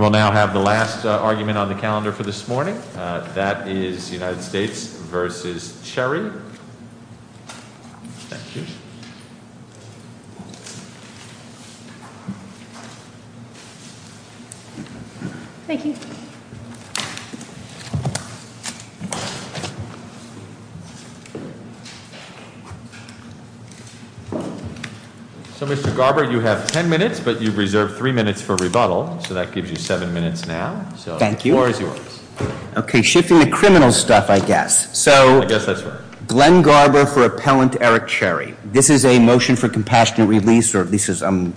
We will now have the last argument on the calendar for this morning. That is United States v. Cherry. Thank you. Thank you. So, Mr. Garber, you have ten minutes, but you've reserved three minutes for rebuttal, so that gives you seven minutes now. Thank you. The floor is yours. Okay. Shifting to criminal stuff, I guess. I guess that's right. So, Glenn Garber for Appellant Eric Cherry. This is a motion for compassionate release, or at least I'm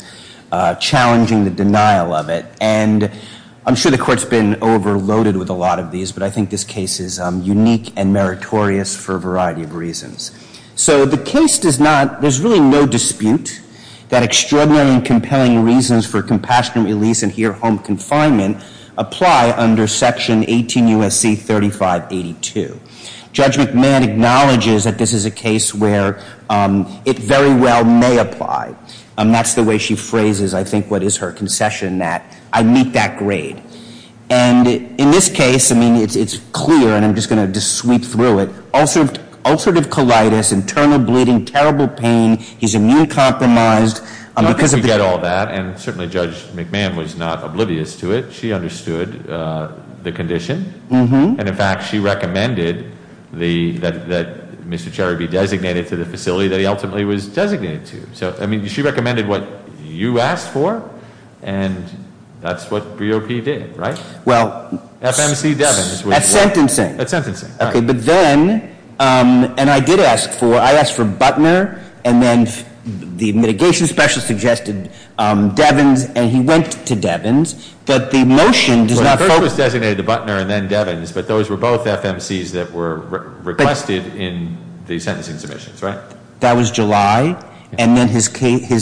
challenging the denial of it. And I'm sure the Court's been overloaded with a lot of these, but I think this case is unique and meritorious for a variety of reasons. So the case does not, there's really no dispute that extraordinary and compelling reasons for compassionate release, and here home confinement, apply under Section 18 U.S.C. 3582. Judge McMahon acknowledges that this is a case where it very well may apply. That's the way she phrases, I think, what is her concession, that I meet that grade. And in this case, I mean, it's clear, and I'm just going to sweep through it, ulcerative colitis, internal bleeding, terrible pain, he's immune compromised. I think we get all that, and certainly Judge McMahon was not oblivious to it. She understood the condition. And in fact, she recommended that Mr. Cherry be designated to the facility that he ultimately was designated to. So, I mean, she recommended what you asked for, and that's what BOP did, right? Well- FMC Devins. At sentencing. At sentencing, right. Okay, but then, and I did ask for, I asked for Butner, and then the mitigation specialist suggested Devins, and he went to Devins, but the motion does not focus- Well, the vote was designated to Butner and then Devins, but those were both FMCs that were requested in the sentencing submissions, right? That was July, and then his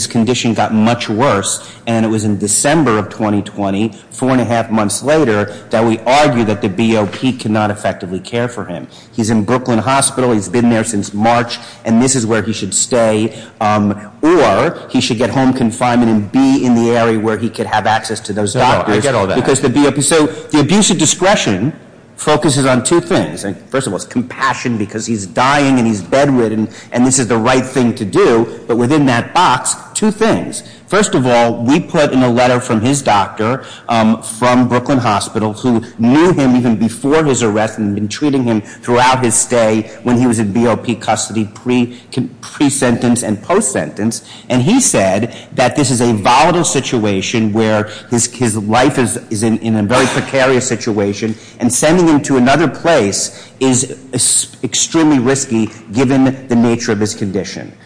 condition got much worse, and it was in December of 2020, four and a half months later, that we argue that the BOP cannot effectively care for him. He's in Brooklyn Hospital, he's been there since March, and this is where he should stay, or he should get home confinement and be in the area where he could have access to those doctors- No, I get all that. Because the BOP, so the abuse of discretion focuses on two things. First of all, it's compassion, because he's dying and he's bedridden, and this is the right thing to do, but within that box, two things. First of all, we put in a letter from his doctor, from Brooklyn Hospital, who knew him even before his arrest and had been treating him throughout his stay when he was in BOP custody, pre-sentence and post-sentence, and he said that this is a volatile situation where his life is in a very precarious situation, and sending him to another place is extremely risky given the nature of his condition.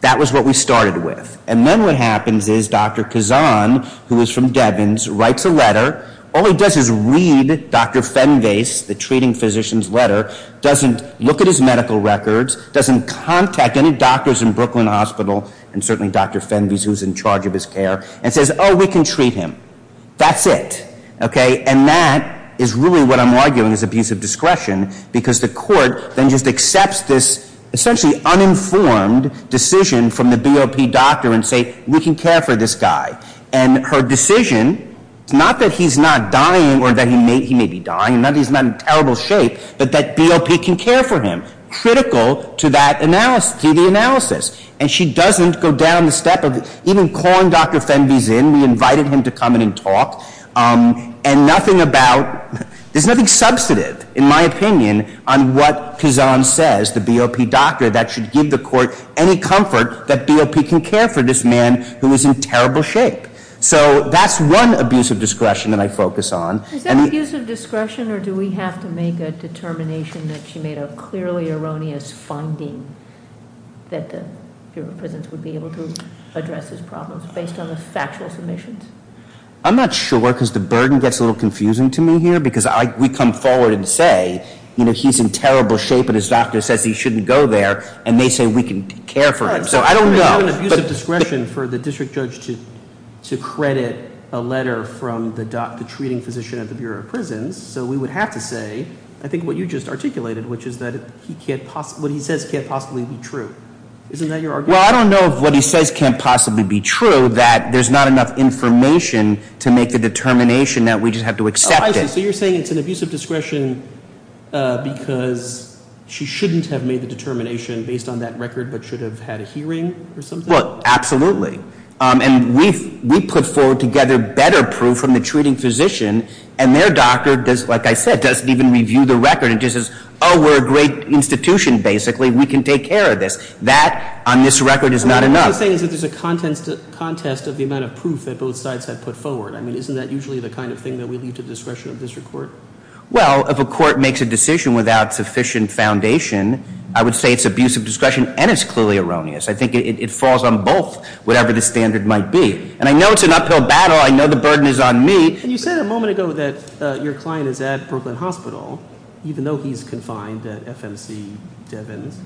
That was what we started with. And then what happens is Dr. Kazan, who is from Devens, writes a letter, all he does is read Dr. Fenves, the treating physician's letter, doesn't look at his medical records, doesn't contact any doctors in Brooklyn Hospital, and certainly Dr. Fenves, who's in charge of his care, and says, oh, we can treat him. That's it. Okay? And that is really what I'm arguing is abuse of discretion, because the court then just accepts this essentially uninformed decision from the BOP doctor and say, we can care for this guy. And her decision, it's not that he's not dying or that he may be dying, not that he's not in terrible shape, but that BOP can care for him, critical to that analysis, to the analysis. And she doesn't go down the step of even calling Dr. Fenves in. We invited him to come in and talk. And nothing about, there's nothing substantive, in my opinion, on what Kazan says, the BOP doctor, that should give the court any comfort that BOP can care for this man who is in terrible shape. So that's one abuse of discretion that I focus on. Is that abuse of discretion, or do we have to make a determination that she made a clearly erroneous finding that the Bureau of Prisons would be able to address his problems based on the factual submissions? I'm not sure, because the burden gets a little confusing to me here, because we come forward and say, you know, he's in terrible shape and his doctor says he shouldn't go there, and they say we can care for him. So I don't know. But- We have an abuse of discretion for the district judge to credit a letter from the treating physician at the Bureau of Prisons, so we would have to say, I think what you just articulated, which is that what he says can't possibly be true. Isn't that your argument? Well, I don't know if what he says can't possibly be true, that there's not enough information to make the determination that we just have to accept it. Oh, I see. So you're saying it's an abuse of discretion because she shouldn't have made the determination based on that record, but should have had a hearing or something? Well, absolutely. And we put forward together better proof from the treating physician, and their doctor, like I said, doesn't even review the record and just says, oh, we're a great institution, basically. We can take care of this. That, on this record, is not enough. I mean, what you're saying is that there's a contest of the amount of proof that both sides have put forward. I mean, isn't that usually the kind of thing that we leave to discretion of district court? Well, if a court makes a decision without sufficient foundation, I would say it's abuse of discretion, and it's clearly erroneous. I think it falls on both, whatever the standard might be. And I know it's an uphill battle. I know the burden is on me. And you said a moment ago that your client is at Brooklyn Hospital, even though he's confined at FMC Devins,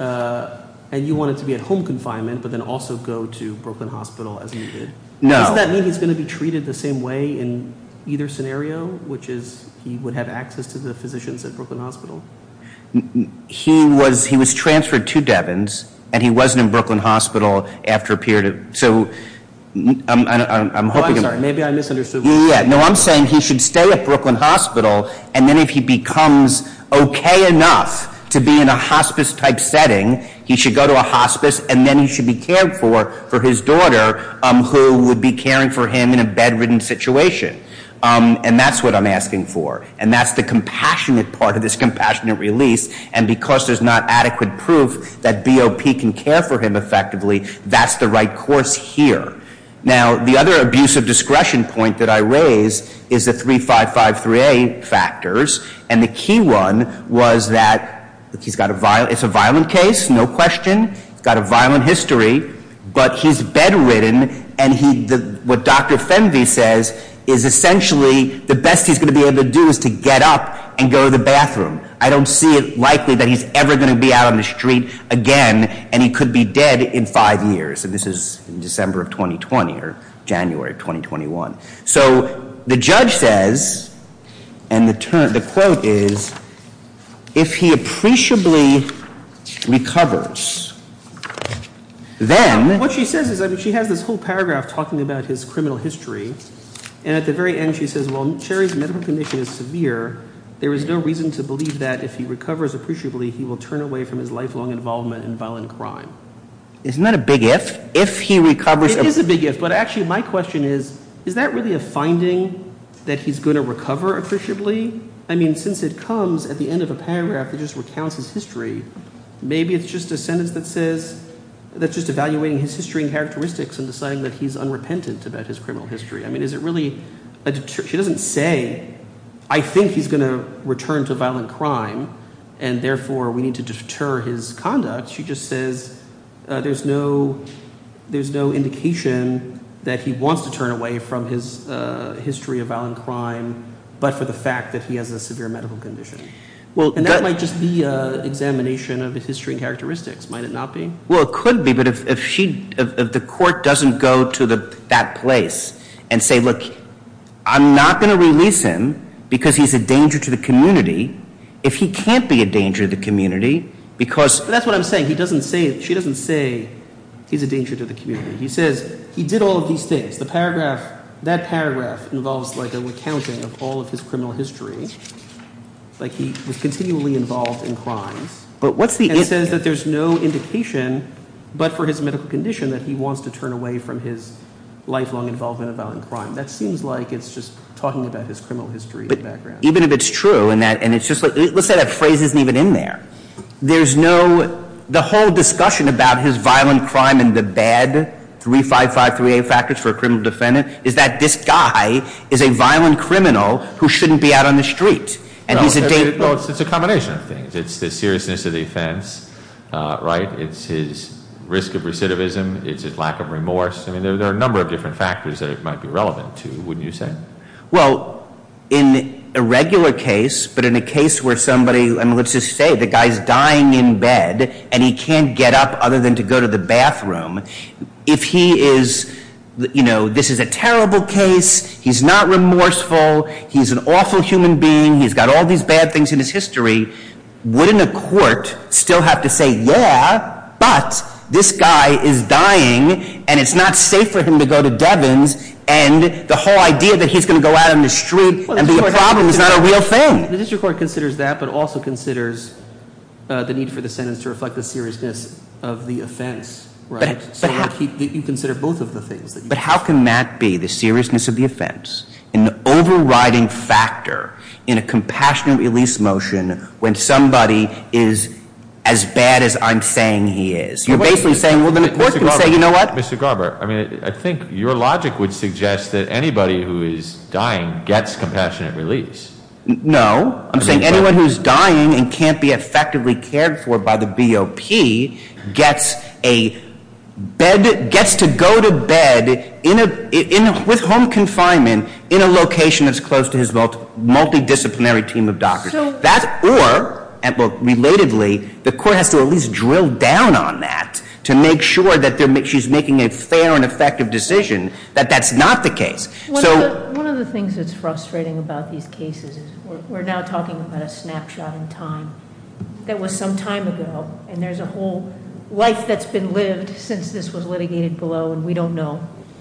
and you want it to be at home confinement, but then also go to Brooklyn Hospital as needed. No. Doesn't that mean he's going to be treated the same way in either scenario, which is he would have access to the physicians at Brooklyn Hospital? He was transferred to Devins, and he wasn't in Brooklyn Hospital after a period of... So I'm hoping... I'm sorry. Maybe I misunderstood. Yeah. No, I'm saying he should stay at Brooklyn Hospital, and then if he becomes okay enough to be in a hospice-type setting, he should go to a hospice, and then he should be cared for for his daughter, who would be caring for him in a bedridden situation. And that's what I'm asking for. And that's the compassionate part of this compassionate release. And because there's not adequate proof that BOP can care for him effectively, that's the right course here. Now, the other abuse of discretion point that I raise is the 3553A factors. And the key one was that he's got a violent... It's a violent case, no question. He's got a violent history, but he's bedridden, and what Dr. Fenvey says is essentially the best he's going to be able to do is to get up and go to the bathroom. I don't see it likely that he's ever going to be out on the street again, and he could be dead in five years. And this is in December of 2020, or January of 2021. So the judge says, and the quote is, if he appreciably recovers, then... What she says is, I mean, she has this whole paragraph talking about his criminal history. And at the very end, she says, well, Jerry's medical condition is severe. There is no reason to believe that if he recovers appreciably, he will turn away from his lifelong involvement in violent crime. Isn't that a big if? If he recovers... It is a big if, but actually my question is, is that really a finding that he's going to recover appreciably? I mean, since it comes at the end of a paragraph that just recounts his history, maybe it's just a sentence that says, that's just evaluating his history and characteristics and deciding that he's unrepentant about his criminal history. I mean, is it really... She doesn't say, I think he's going to return to violent crime, and therefore we need to deter his conduct. She just says, there's no indication that he wants to turn away from his history of violent crime, but for the fact that he has a severe medical condition. And that might just be an examination of his history and characteristics. Might it not be? Well, it could be. But if the court doesn't go to that place and say, look, I'm not going to release him because he's a danger to the community. If he can't be a danger to the community, because... That's what I'm saying. He doesn't say, she doesn't say he's a danger to the community. He says, he did all of these things. The paragraph, that paragraph involves like a recounting of all of his criminal history. Like he was continually involved in crimes. But what's the... And says that there's no indication, but for his medical condition, that he wants to turn away from his lifelong involvement in violent crime. That seems like it's just talking about his criminal history in the background. Even if it's true, and it's just like, let's say that phrase isn't even in there. There's no... The whole discussion about his violent crime and the bad 35538 factors for a criminal defendant is that this guy is a violent criminal who shouldn't be out on the street. And he's a danger... Well, it's a combination of things. It's the seriousness of the offense, right? It's his risk of recidivism. It's his lack of remorse. I mean, there are a number of different factors that it might be relevant to, wouldn't you say? Well, in a regular case, but in a case where somebody... I mean, let's just say the guy's dying in bed and he can't get up other than to go to the bathroom. If he is... This is a terrible case. He's not remorseful. He's an awful human being. He's got all these bad things in his history. Wouldn't a court still have to say, yeah, but this guy is dying and it's not safe for him to go to Devins. And the whole idea that he's going to go out on the street and be a problem is not a real thing. The district court considers that, but also considers the need for the sentence to reflect the seriousness of the offense, right? You consider both of the things. But how can that be, the seriousness of the offense, an overriding factor in a compassionate release motion when somebody is as bad as I'm saying he is? You're basically saying, well, then the court can say, you know what? Mr. Garber, I mean, I think your logic would suggest that anybody who is dying gets compassionate release. No. I'm saying anyone who's dying and can't be effectively cared for by the BOP gets a bed... Gets to go to bed in a... With home confinement in a location that's close to his multidisciplinary team of doctors. That or, relatively, the court has to at least drill down on that to make sure that she's making a fair and effective decision, that that's not the case. So... One of the things that's frustrating about these cases is we're now talking about a snapshot in time that was some time ago, and there's a whole life that's been lived since this was litigated below, and we don't know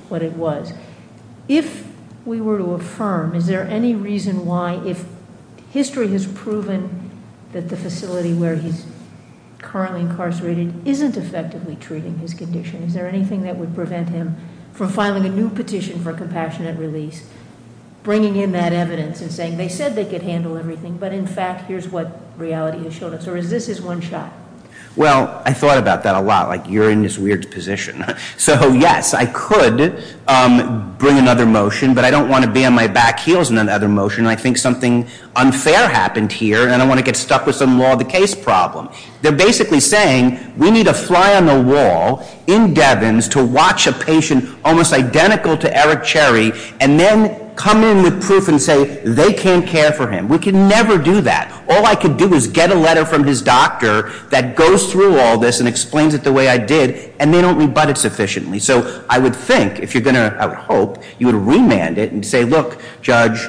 what it was. If we were to affirm, is there any reason why, if history has proven that the facility where he's currently incarcerated isn't effectively treating his condition? Is there anything that would prevent him from filing a new petition for compassionate release, bringing in that evidence and saying, they said they could handle everything, but in fact here's what reality has shown us, or is this his one shot? Well, I thought about that a lot, like you're in this weird position. So yes, I could bring another motion, but I don't want to be on my back heels in another motion and I think something unfair happened here, and I don't want to get stuck with some law of the case problem. They're basically saying, we need a fly on the wall in Devens to watch a patient almost identical to Eric Cherry, and then come in with proof and say, they can't care for him. We can never do that. All I can do is get a letter from his doctor that goes through all this and explains it the way I did, and they don't rebut it sufficiently. So I would think, if you're going to, I would hope, you would remand it and say, look, judge,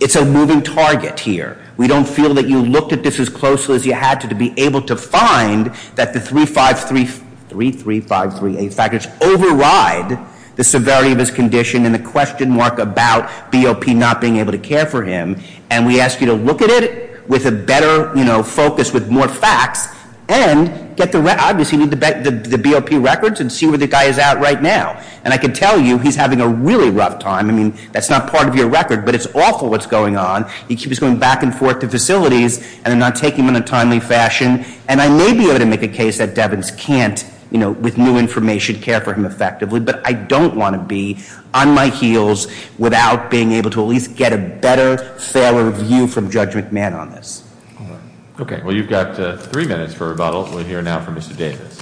it's a moving target here. We don't feel that you looked at this as closely as you had to be able to find that the three, five, three, three, three, five, three, eight factors override the severity of his condition and the question mark about BOP not being able to care for him. And we ask you to look at it with a better focus, with more facts, and get the BOP records and see where the guy is at right now. And I can tell you, he's having a really rough time. I mean, that's not part of your record, but it's awful what's going on. He keeps going back and forth to facilities, and they're not taking him in a timely fashion. And I may be able to make a case that Devens can't, with new information, care for him effectively. But I don't want to be on my heels without being able to at least get a better, fairer view from Judge McMahon on this. Okay, well you've got three minutes for rebuttal. We'll hear now from Mr. Davis.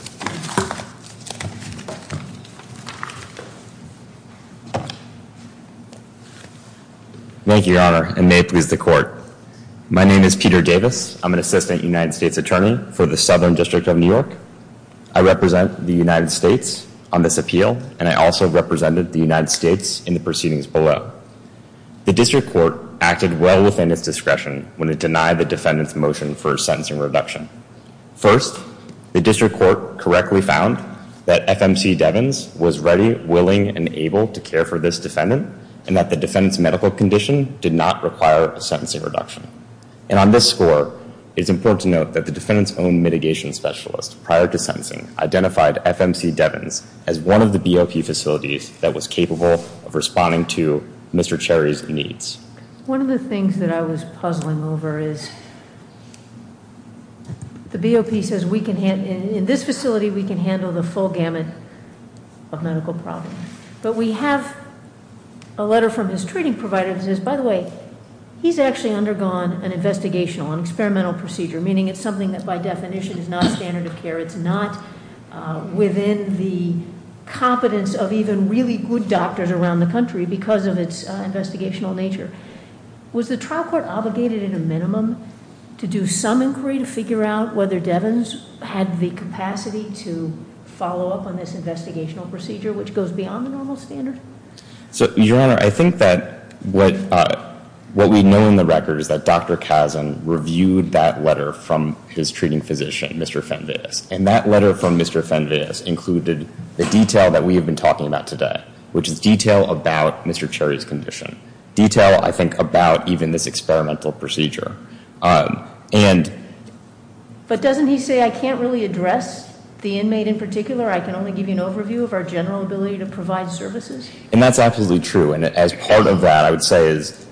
Thank you, Your Honor, and may it please the court. My name is Peter Davis. I'm an assistant United States attorney for the Southern District of New York. I represent the United States on this appeal, and I also represented the United States in the proceedings below. The district court acted well within its discretion when it denied the defendant's motion for a sentencing reduction. First, the district court correctly found that FMC Devens was ready, willing, and able to care for this defendant, and that the defendant's medical condition did not require a sentencing reduction. And on this score, it's important to note that the defendant's own mitigation specialist, prior to sentencing, identified FMC Devens as one of the BOP facilities that was capable of responding to Mr. Cherry's needs. One of the things that I was puzzling over is the BOP says, in this facility, we can handle the full gamut of medical problems. But we have a letter from his treating provider that says, by the way, he's actually undergone an investigational, an experimental procedure, meaning it's something that by definition is not standard of care. It's not within the competence of even really good doctors around the country because of its investigational nature. Was the trial court obligated in a minimum to do some inquiry to figure out whether Devens had the capacity to follow up on this investigational procedure, which goes beyond the normal standard? So, Your Honor, I think that what we know in the record is that Dr. Kazin reviewed that letter from his treating physician, Mr. Fenves. And that letter from Mr. Fenves included the detail that we have been talking about today, which is detail about Mr. Cherry's condition. Detail, I think, about even this experimental procedure. But doesn't he say, I can't really address the inmate in particular, I can only give you an overview of our general ability to provide services? And that's absolutely true, and as part of that, I would say is,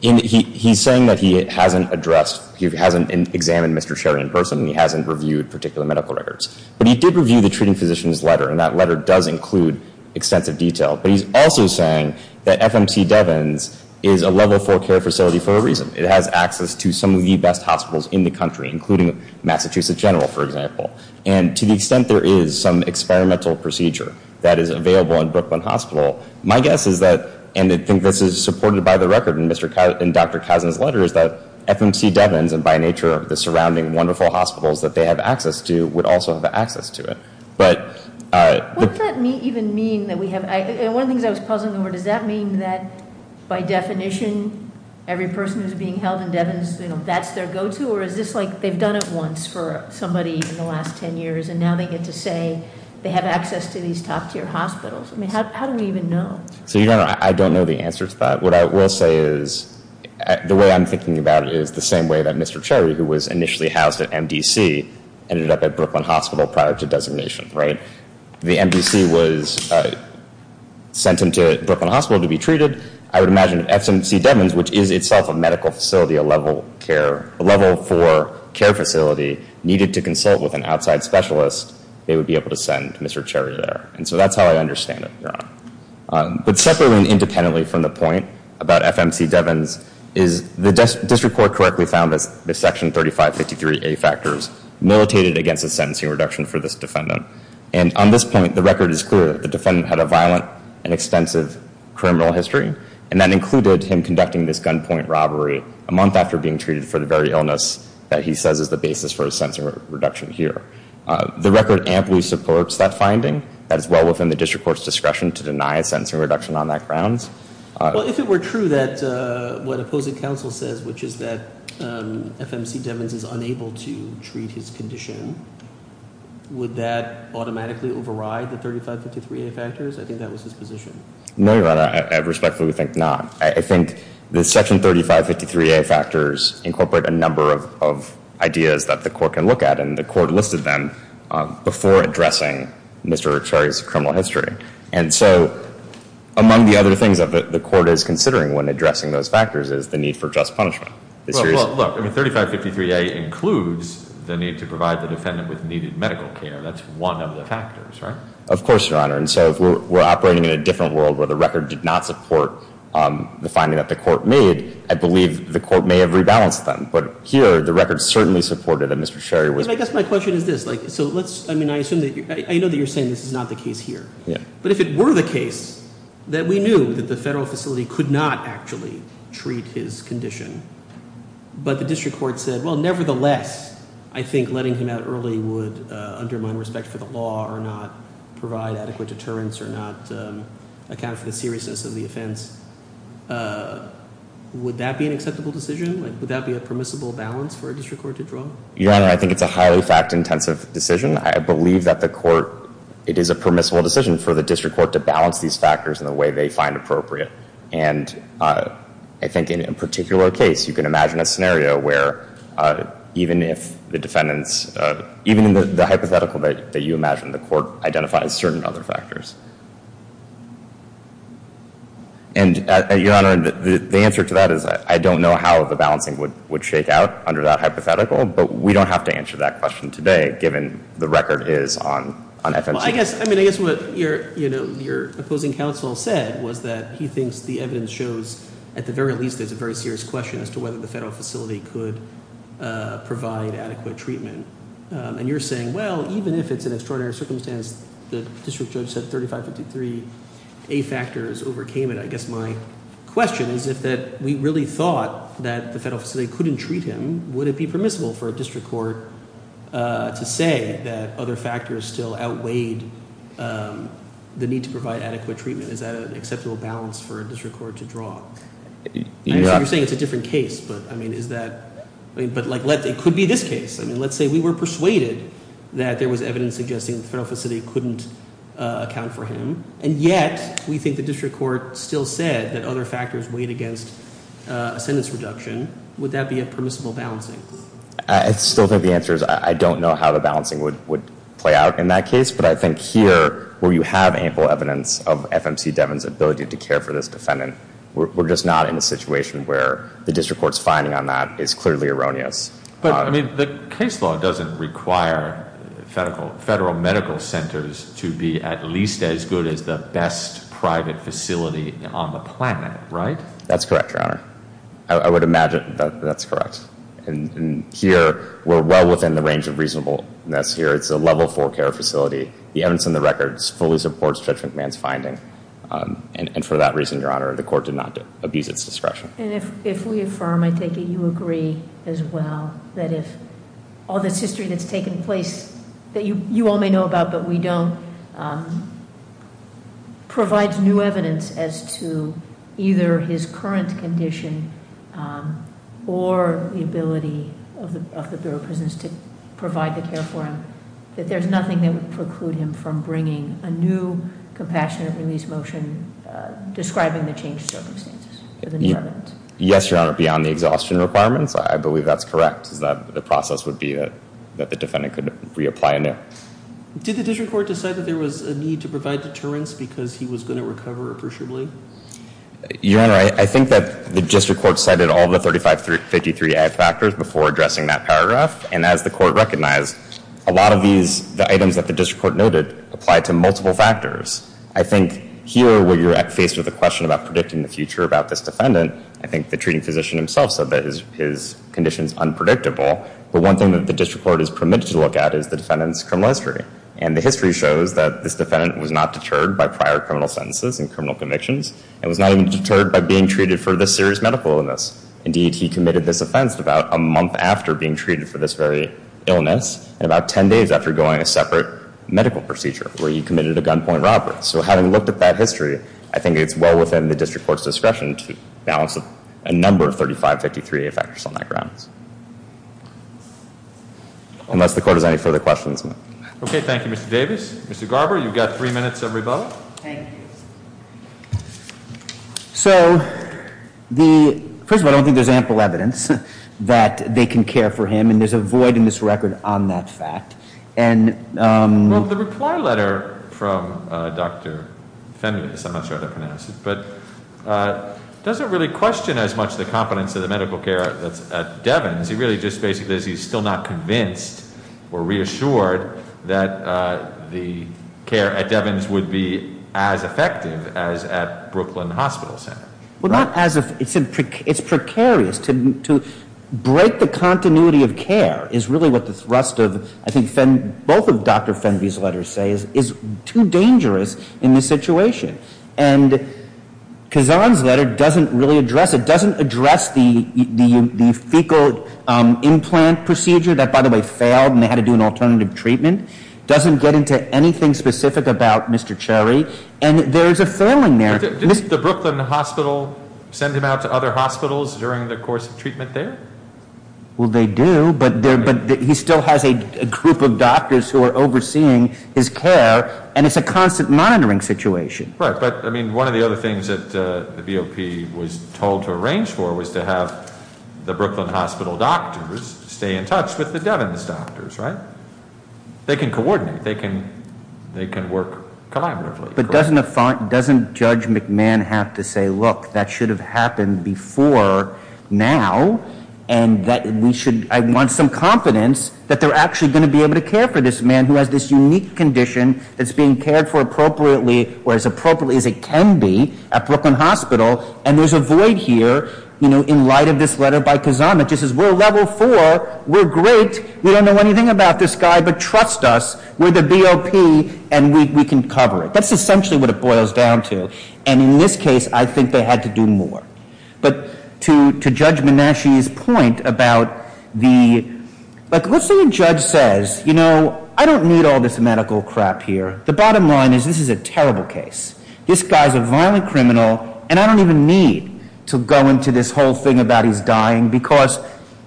he's saying that he hasn't addressed, he hasn't examined Mr. Cherry in person, and he hasn't reviewed particular medical records. But he did review the treating physician's letter, and that letter does include extensive detail. But he's also saying that FMC Devins is a level four care facility for a reason. It has access to some of the best hospitals in the country, including Massachusetts General, for example. And to the extent there is some experimental procedure that is available in Brooklyn Hospital, my guess is that, and I think this is supported by the record in Dr. Kazin's letter, is that FMC Devins, and by nature the surrounding wonderful hospitals that they have access to, would also have access to it. But- What does that even mean that we have, and one of the things I was puzzling over, does that mean that by definition, every person who's being held in Devins, that's their go-to, or is this like they've done it once for somebody in the last ten years, and now they get to say they have access to these top tier hospitals? I mean, how do we even know? So your Honor, I don't know the answer to that. What I will say is, the way I'm thinking about it is the same way that Mr. Cherry, who was initially housed at MDC, ended up at Brooklyn Hospital prior to designation, right? The MDC was sent into Brooklyn Hospital to be treated, I would imagine FMC Devins, which is itself a medical facility, a level care, a level four care facility, needed to consult with an outside specialist, they would be able to send Mr. Cherry there. And so that's how I understand it, Your Honor. But separately and independently from the point about FMC Devins, is the district court correctly found that Section 3553A factors militated against a sentencing reduction for this defendant. And on this point, the record is clear that the defendant had a violent and extensive criminal history. And that included him conducting this gunpoint robbery a month after being treated for the very illness that he says is the basis for a sentencing reduction here. The record amply supports that finding. That is well within the district court's discretion to deny a sentencing reduction on that grounds. Well, if it were true that what opposing counsel says, which is that FMC Devins is unable to treat his condition, would that automatically override the 3553A factors? I think that was his position. No, Your Honor, I respectfully think not. I think the Section 3553A factors incorporate a number of ideas that the court can look at, and the court listed them before addressing Mr. Cherry's criminal history. And so, among the other things that the court is considering when addressing those factors is the need for just punishment. Look, 3553A includes the need to provide the defendant with needed medical care. That's one of the factors, right? Of course, Your Honor. And so, if we're operating in a different world where the record did not support the finding that the court made, I believe the court may have rebalanced them. But here, the record certainly supported that Mr. Cherry was- But I guess my question is this, so let's, I mean, I assume that, I know that you're saying this is not the case here. Yeah. But if it were the case that we knew that the federal facility could not actually treat his condition, but the district court said, well, nevertheless, I think letting him out early would undermine respect for the law or not provide adequate deterrence or not account for the seriousness of the offense. Would that be an acceptable decision? Would that be a permissible balance for a district court to draw? Your Honor, I think it's a highly fact-intensive decision. I believe that the court, it is a permissible decision for the district court to balance these factors in the way they find appropriate. And I think in a particular case, you can imagine a scenario where even if the defendant's, even in the hypothetical that you imagine, the court identifies certain other factors. And Your Honor, the answer to that is I don't know how the balancing would shake out under that hypothetical. But we don't have to answer that question today, given the record is on FMC. I guess, I mean, I guess what your opposing counsel said was that he thinks the evidence shows, at the very least, there's a very serious question as to whether the federal facility could provide adequate treatment. And you're saying, well, even if it's an extraordinary circumstance, the district judge said 3553 A factors overcame it. I guess my question is if that we really thought that the federal facility couldn't treat him, would it be permissible for a district court to say that other factors still outweighed the need to provide adequate treatment, is that an acceptable balance for a district court to draw? You're saying it's a different case, but I mean, is that, but it could be this case. I mean, let's say we were persuaded that there was evidence suggesting the federal facility couldn't account for him. And yet, we think the district court still said that other factors weighed against a sentence reduction. Would that be a permissible balancing? I still think the answer is I don't know how the balancing would play out in that case. But I think here, where you have ample evidence of FMC Devon's ability to care for this defendant, we're just not in a situation where the district court's finding on that is clearly erroneous. But I mean, the case law doesn't require federal medical centers to be at least as good as the best private facility on the planet, right? That's correct, Your Honor. I would imagine that that's correct. And here, we're well within the range of reasonableness here. It's a level four care facility. The evidence in the records fully supports Judge McMahon's finding. And for that reason, Your Honor, the court did not abuse its discretion. And if we affirm, I take it you agree as well, that if all this history that's taken place, that you all may know about, but we don't, provides new evidence as to either his current condition, or the ability of the Bureau of Prisons to provide the care for him, that there's nothing that would preclude him from bringing a new compassionate release motion describing the changed circumstances for the new evidence. Yes, Your Honor, beyond the exhaustion requirements, I believe that's correct. Is that the process would be that the defendant could reapply anew. Did the district court decide that there was a need to provide deterrence because he was going to recover appreciably? Your Honor, I think that the district court cited all the 3553 F factors before addressing that paragraph. And as the court recognized, a lot of these, the items that the district court noted, apply to multiple factors. I think here, where you're faced with a question about predicting the future about this defendant, I think the treating physician himself said that his condition's unpredictable. But one thing that the district court is permitted to look at is the defendant's criminal history. And the history shows that this defendant was not deterred by prior criminal sentences and criminal convictions. And was not even deterred by being treated for this serious medical illness. Indeed, he committed this offense about a month after being treated for this very illness. And about ten days after going a separate medical procedure, where he committed a gunpoint robbery. So having looked at that history, I think it's well within the district court's discretion to balance a number of 3553 F factors on that grounds. Unless the court has any further questions. Okay, thank you, Mr. Davis. Mr. Garber, you've got three minutes, everybody. Thank you. So, first of all, I don't think there's ample evidence that they can care for him. I mean, there's a void in this record on that fact. And- Well, the reply letter from Dr. Fenves, I'm not sure how to pronounce it, but doesn't really question as much the competence of the medical care that's at Devins. He really just basically says he's still not convinced or reassured that the care at Devins would be as effective as at Brooklyn Hospital Center. Well, not as, it's precarious to break the continuity of care is really what the thrust of, I think both of Dr. Fenves' letters say, is too dangerous in this situation. And Kazan's letter doesn't really address it. Doesn't address the fecal implant procedure that, by the way, failed and they had to do an alternative treatment. Doesn't get into anything specific about Mr. Cherry. And there's a failing there. Did the Brooklyn Hospital send him out to other hospitals during the course of treatment there? Well, they do, but he still has a group of doctors who are overseeing his care, and it's a constant monitoring situation. Right, but I mean, one of the other things that the BOP was told to arrange for was to have the Brooklyn Hospital doctors stay in touch with the Devins doctors, right? They can coordinate, they can work collaboratively. But doesn't Judge McMahon have to say, look, that should have happened before now. And that we should, I want some confidence that they're actually going to be able to care for this man who has this unique condition that's being cared for appropriately or as appropriately as it can be at Brooklyn Hospital. And there's a void here in light of this letter by Kazan that just says, we're level four, we're great. We don't know anything about this guy, but trust us, we're the BOP and we can cover it. That's essentially what it boils down to, and in this case, I think they had to do more. But to Judge Menashe's point about the, let's say a judge says, you know, I don't need all this medical crap here. The bottom line is this is a terrible case. This guy's a violent criminal, and I don't even need to go into this whole thing about he's dying, because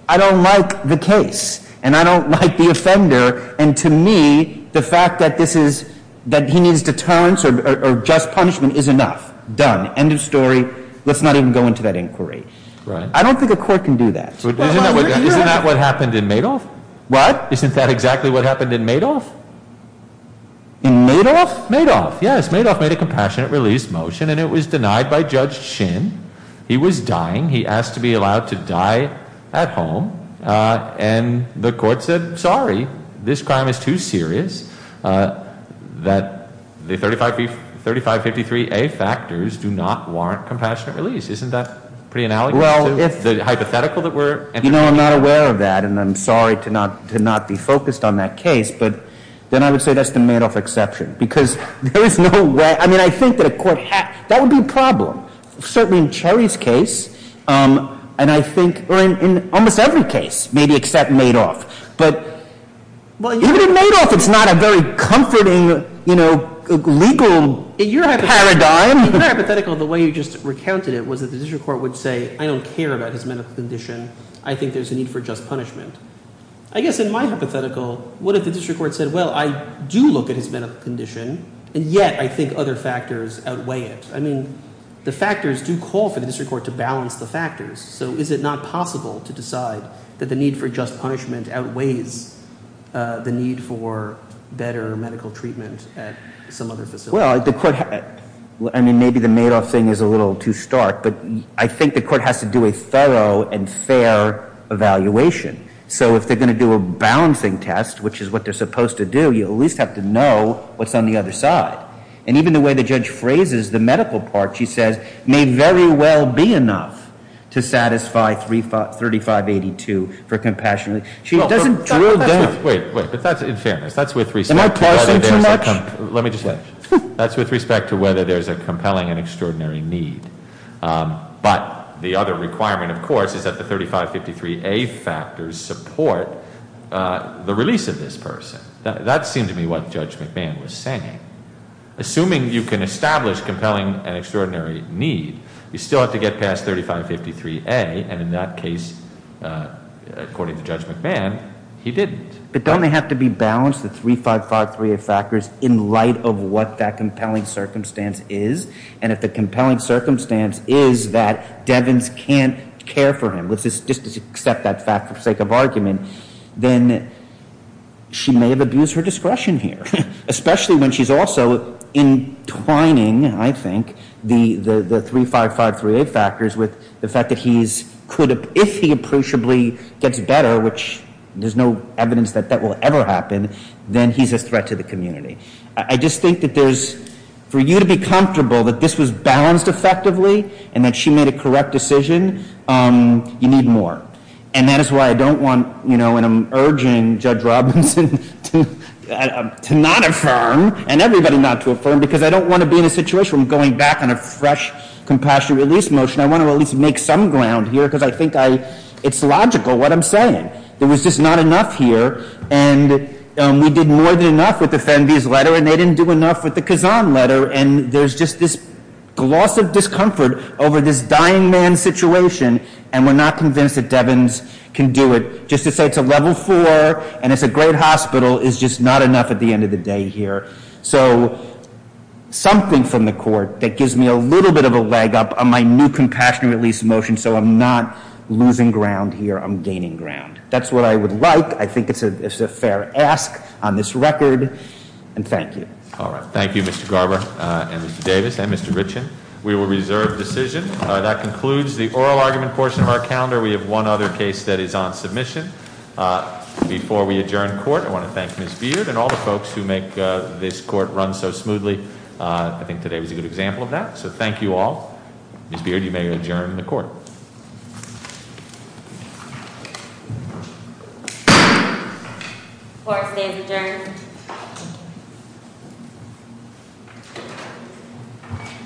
I don't like the case, and I don't like the offender. And to me, the fact that this is, that he needs deterrence or just punishment is enough. Done. End of story. Let's not even go into that inquiry. I don't think a court can do that. Isn't that what happened in Madoff? What? Isn't that exactly what happened in Madoff? In Madoff? Madoff, yes. Madoff made a compassionate release motion, and it was denied by Judge Shin. He was dying. He asked to be allowed to die at home. And the court said, sorry, this crime is too serious. That the 3553A factors do not warrant compassionate release. Isn't that pretty analogous to the hypothetical that we're- You know, I'm not aware of that, and I'm sorry to not be focused on that case, but then I would say that's the Madoff exception, because there is no way, I mean, I think that a court, that would be a problem. Certainly in Cherry's case, and I think, or in almost every case, maybe except Madoff. But even in Madoff, it's not a very comforting legal paradigm. In your hypothetical, the way you just recounted it was that the district court would say, I don't care about his medical condition. I think there's a need for just punishment. I guess in my hypothetical, what if the district court said, well, I do look at his medical condition, and yet I think other factors outweigh it. I mean, the factors do call for the district court to balance the factors. So is it not possible to decide that the need for just punishment outweighs the need for better medical treatment at some other facility? Well, I mean, maybe the Madoff thing is a little too stark, but I think the court has to do a thorough and fair evaluation. So if they're going to do a balancing test, which is what they're supposed to do, you at least have to know what's on the other side. And even the way the judge phrases the medical part, she says, may very well be enough to satisfy 3582 for compassion relief. She doesn't drill down. Wait, wait, but that's in fairness. That's with respect to whether there's a compelling and extraordinary need. But the other requirement, of course, is that the 3553A factors support the release of this person. That seemed to me what Judge McMahon was saying. Assuming you can establish compelling and extraordinary need, you still have to get past 3553A, and in that case, according to Judge McMahon, he didn't. But don't they have to be balanced, the 3553A factors, in light of what that compelling circumstance is? And if the compelling circumstance is that Devens can't care for him, just to accept that fact for the sake of argument, then she may have abused her discretion here, especially when she's also entwining, I think, the 3553A factors with the fact that if he appreciably gets better, which there's no evidence that that will ever happen, then he's a threat to the community. I just think that for you to be comfortable that this was balanced effectively and that she made a correct decision, you need more. And that is why I don't want, and I'm urging Judge Robinson to not affirm, and everybody not to affirm, because I don't want to be in a situation where I'm going back on a fresh compassion release motion. I want to at least make some ground here, because I think it's logical what I'm saying. There was just not enough here, and we did more than enough with the Fenby's letter, and they didn't do enough with the Kazan letter. And there's just this gloss of discomfort over this dying man situation, and we're not convinced that Devens can do it, just to say it's a level four, and it's a great hospital, is just not enough at the end of the day here. So, something from the court that gives me a little bit of a leg up on my new compassion release motion, so I'm not losing ground here, I'm gaining ground. That's what I would like. I think it's a fair ask on this record, and thank you. All right, thank you, Mr. Garber, and Mr. Davis, and Mr. Richen. We will reserve decision. That concludes the oral argument portion of our calendar. We have one other case that is on submission. Before we adjourn court, I want to thank Ms. Beard and all the folks who make this court run so smoothly. I think today was a good example of that. So thank you all. Ms. Beard, you may adjourn the court. Court stays adjourned.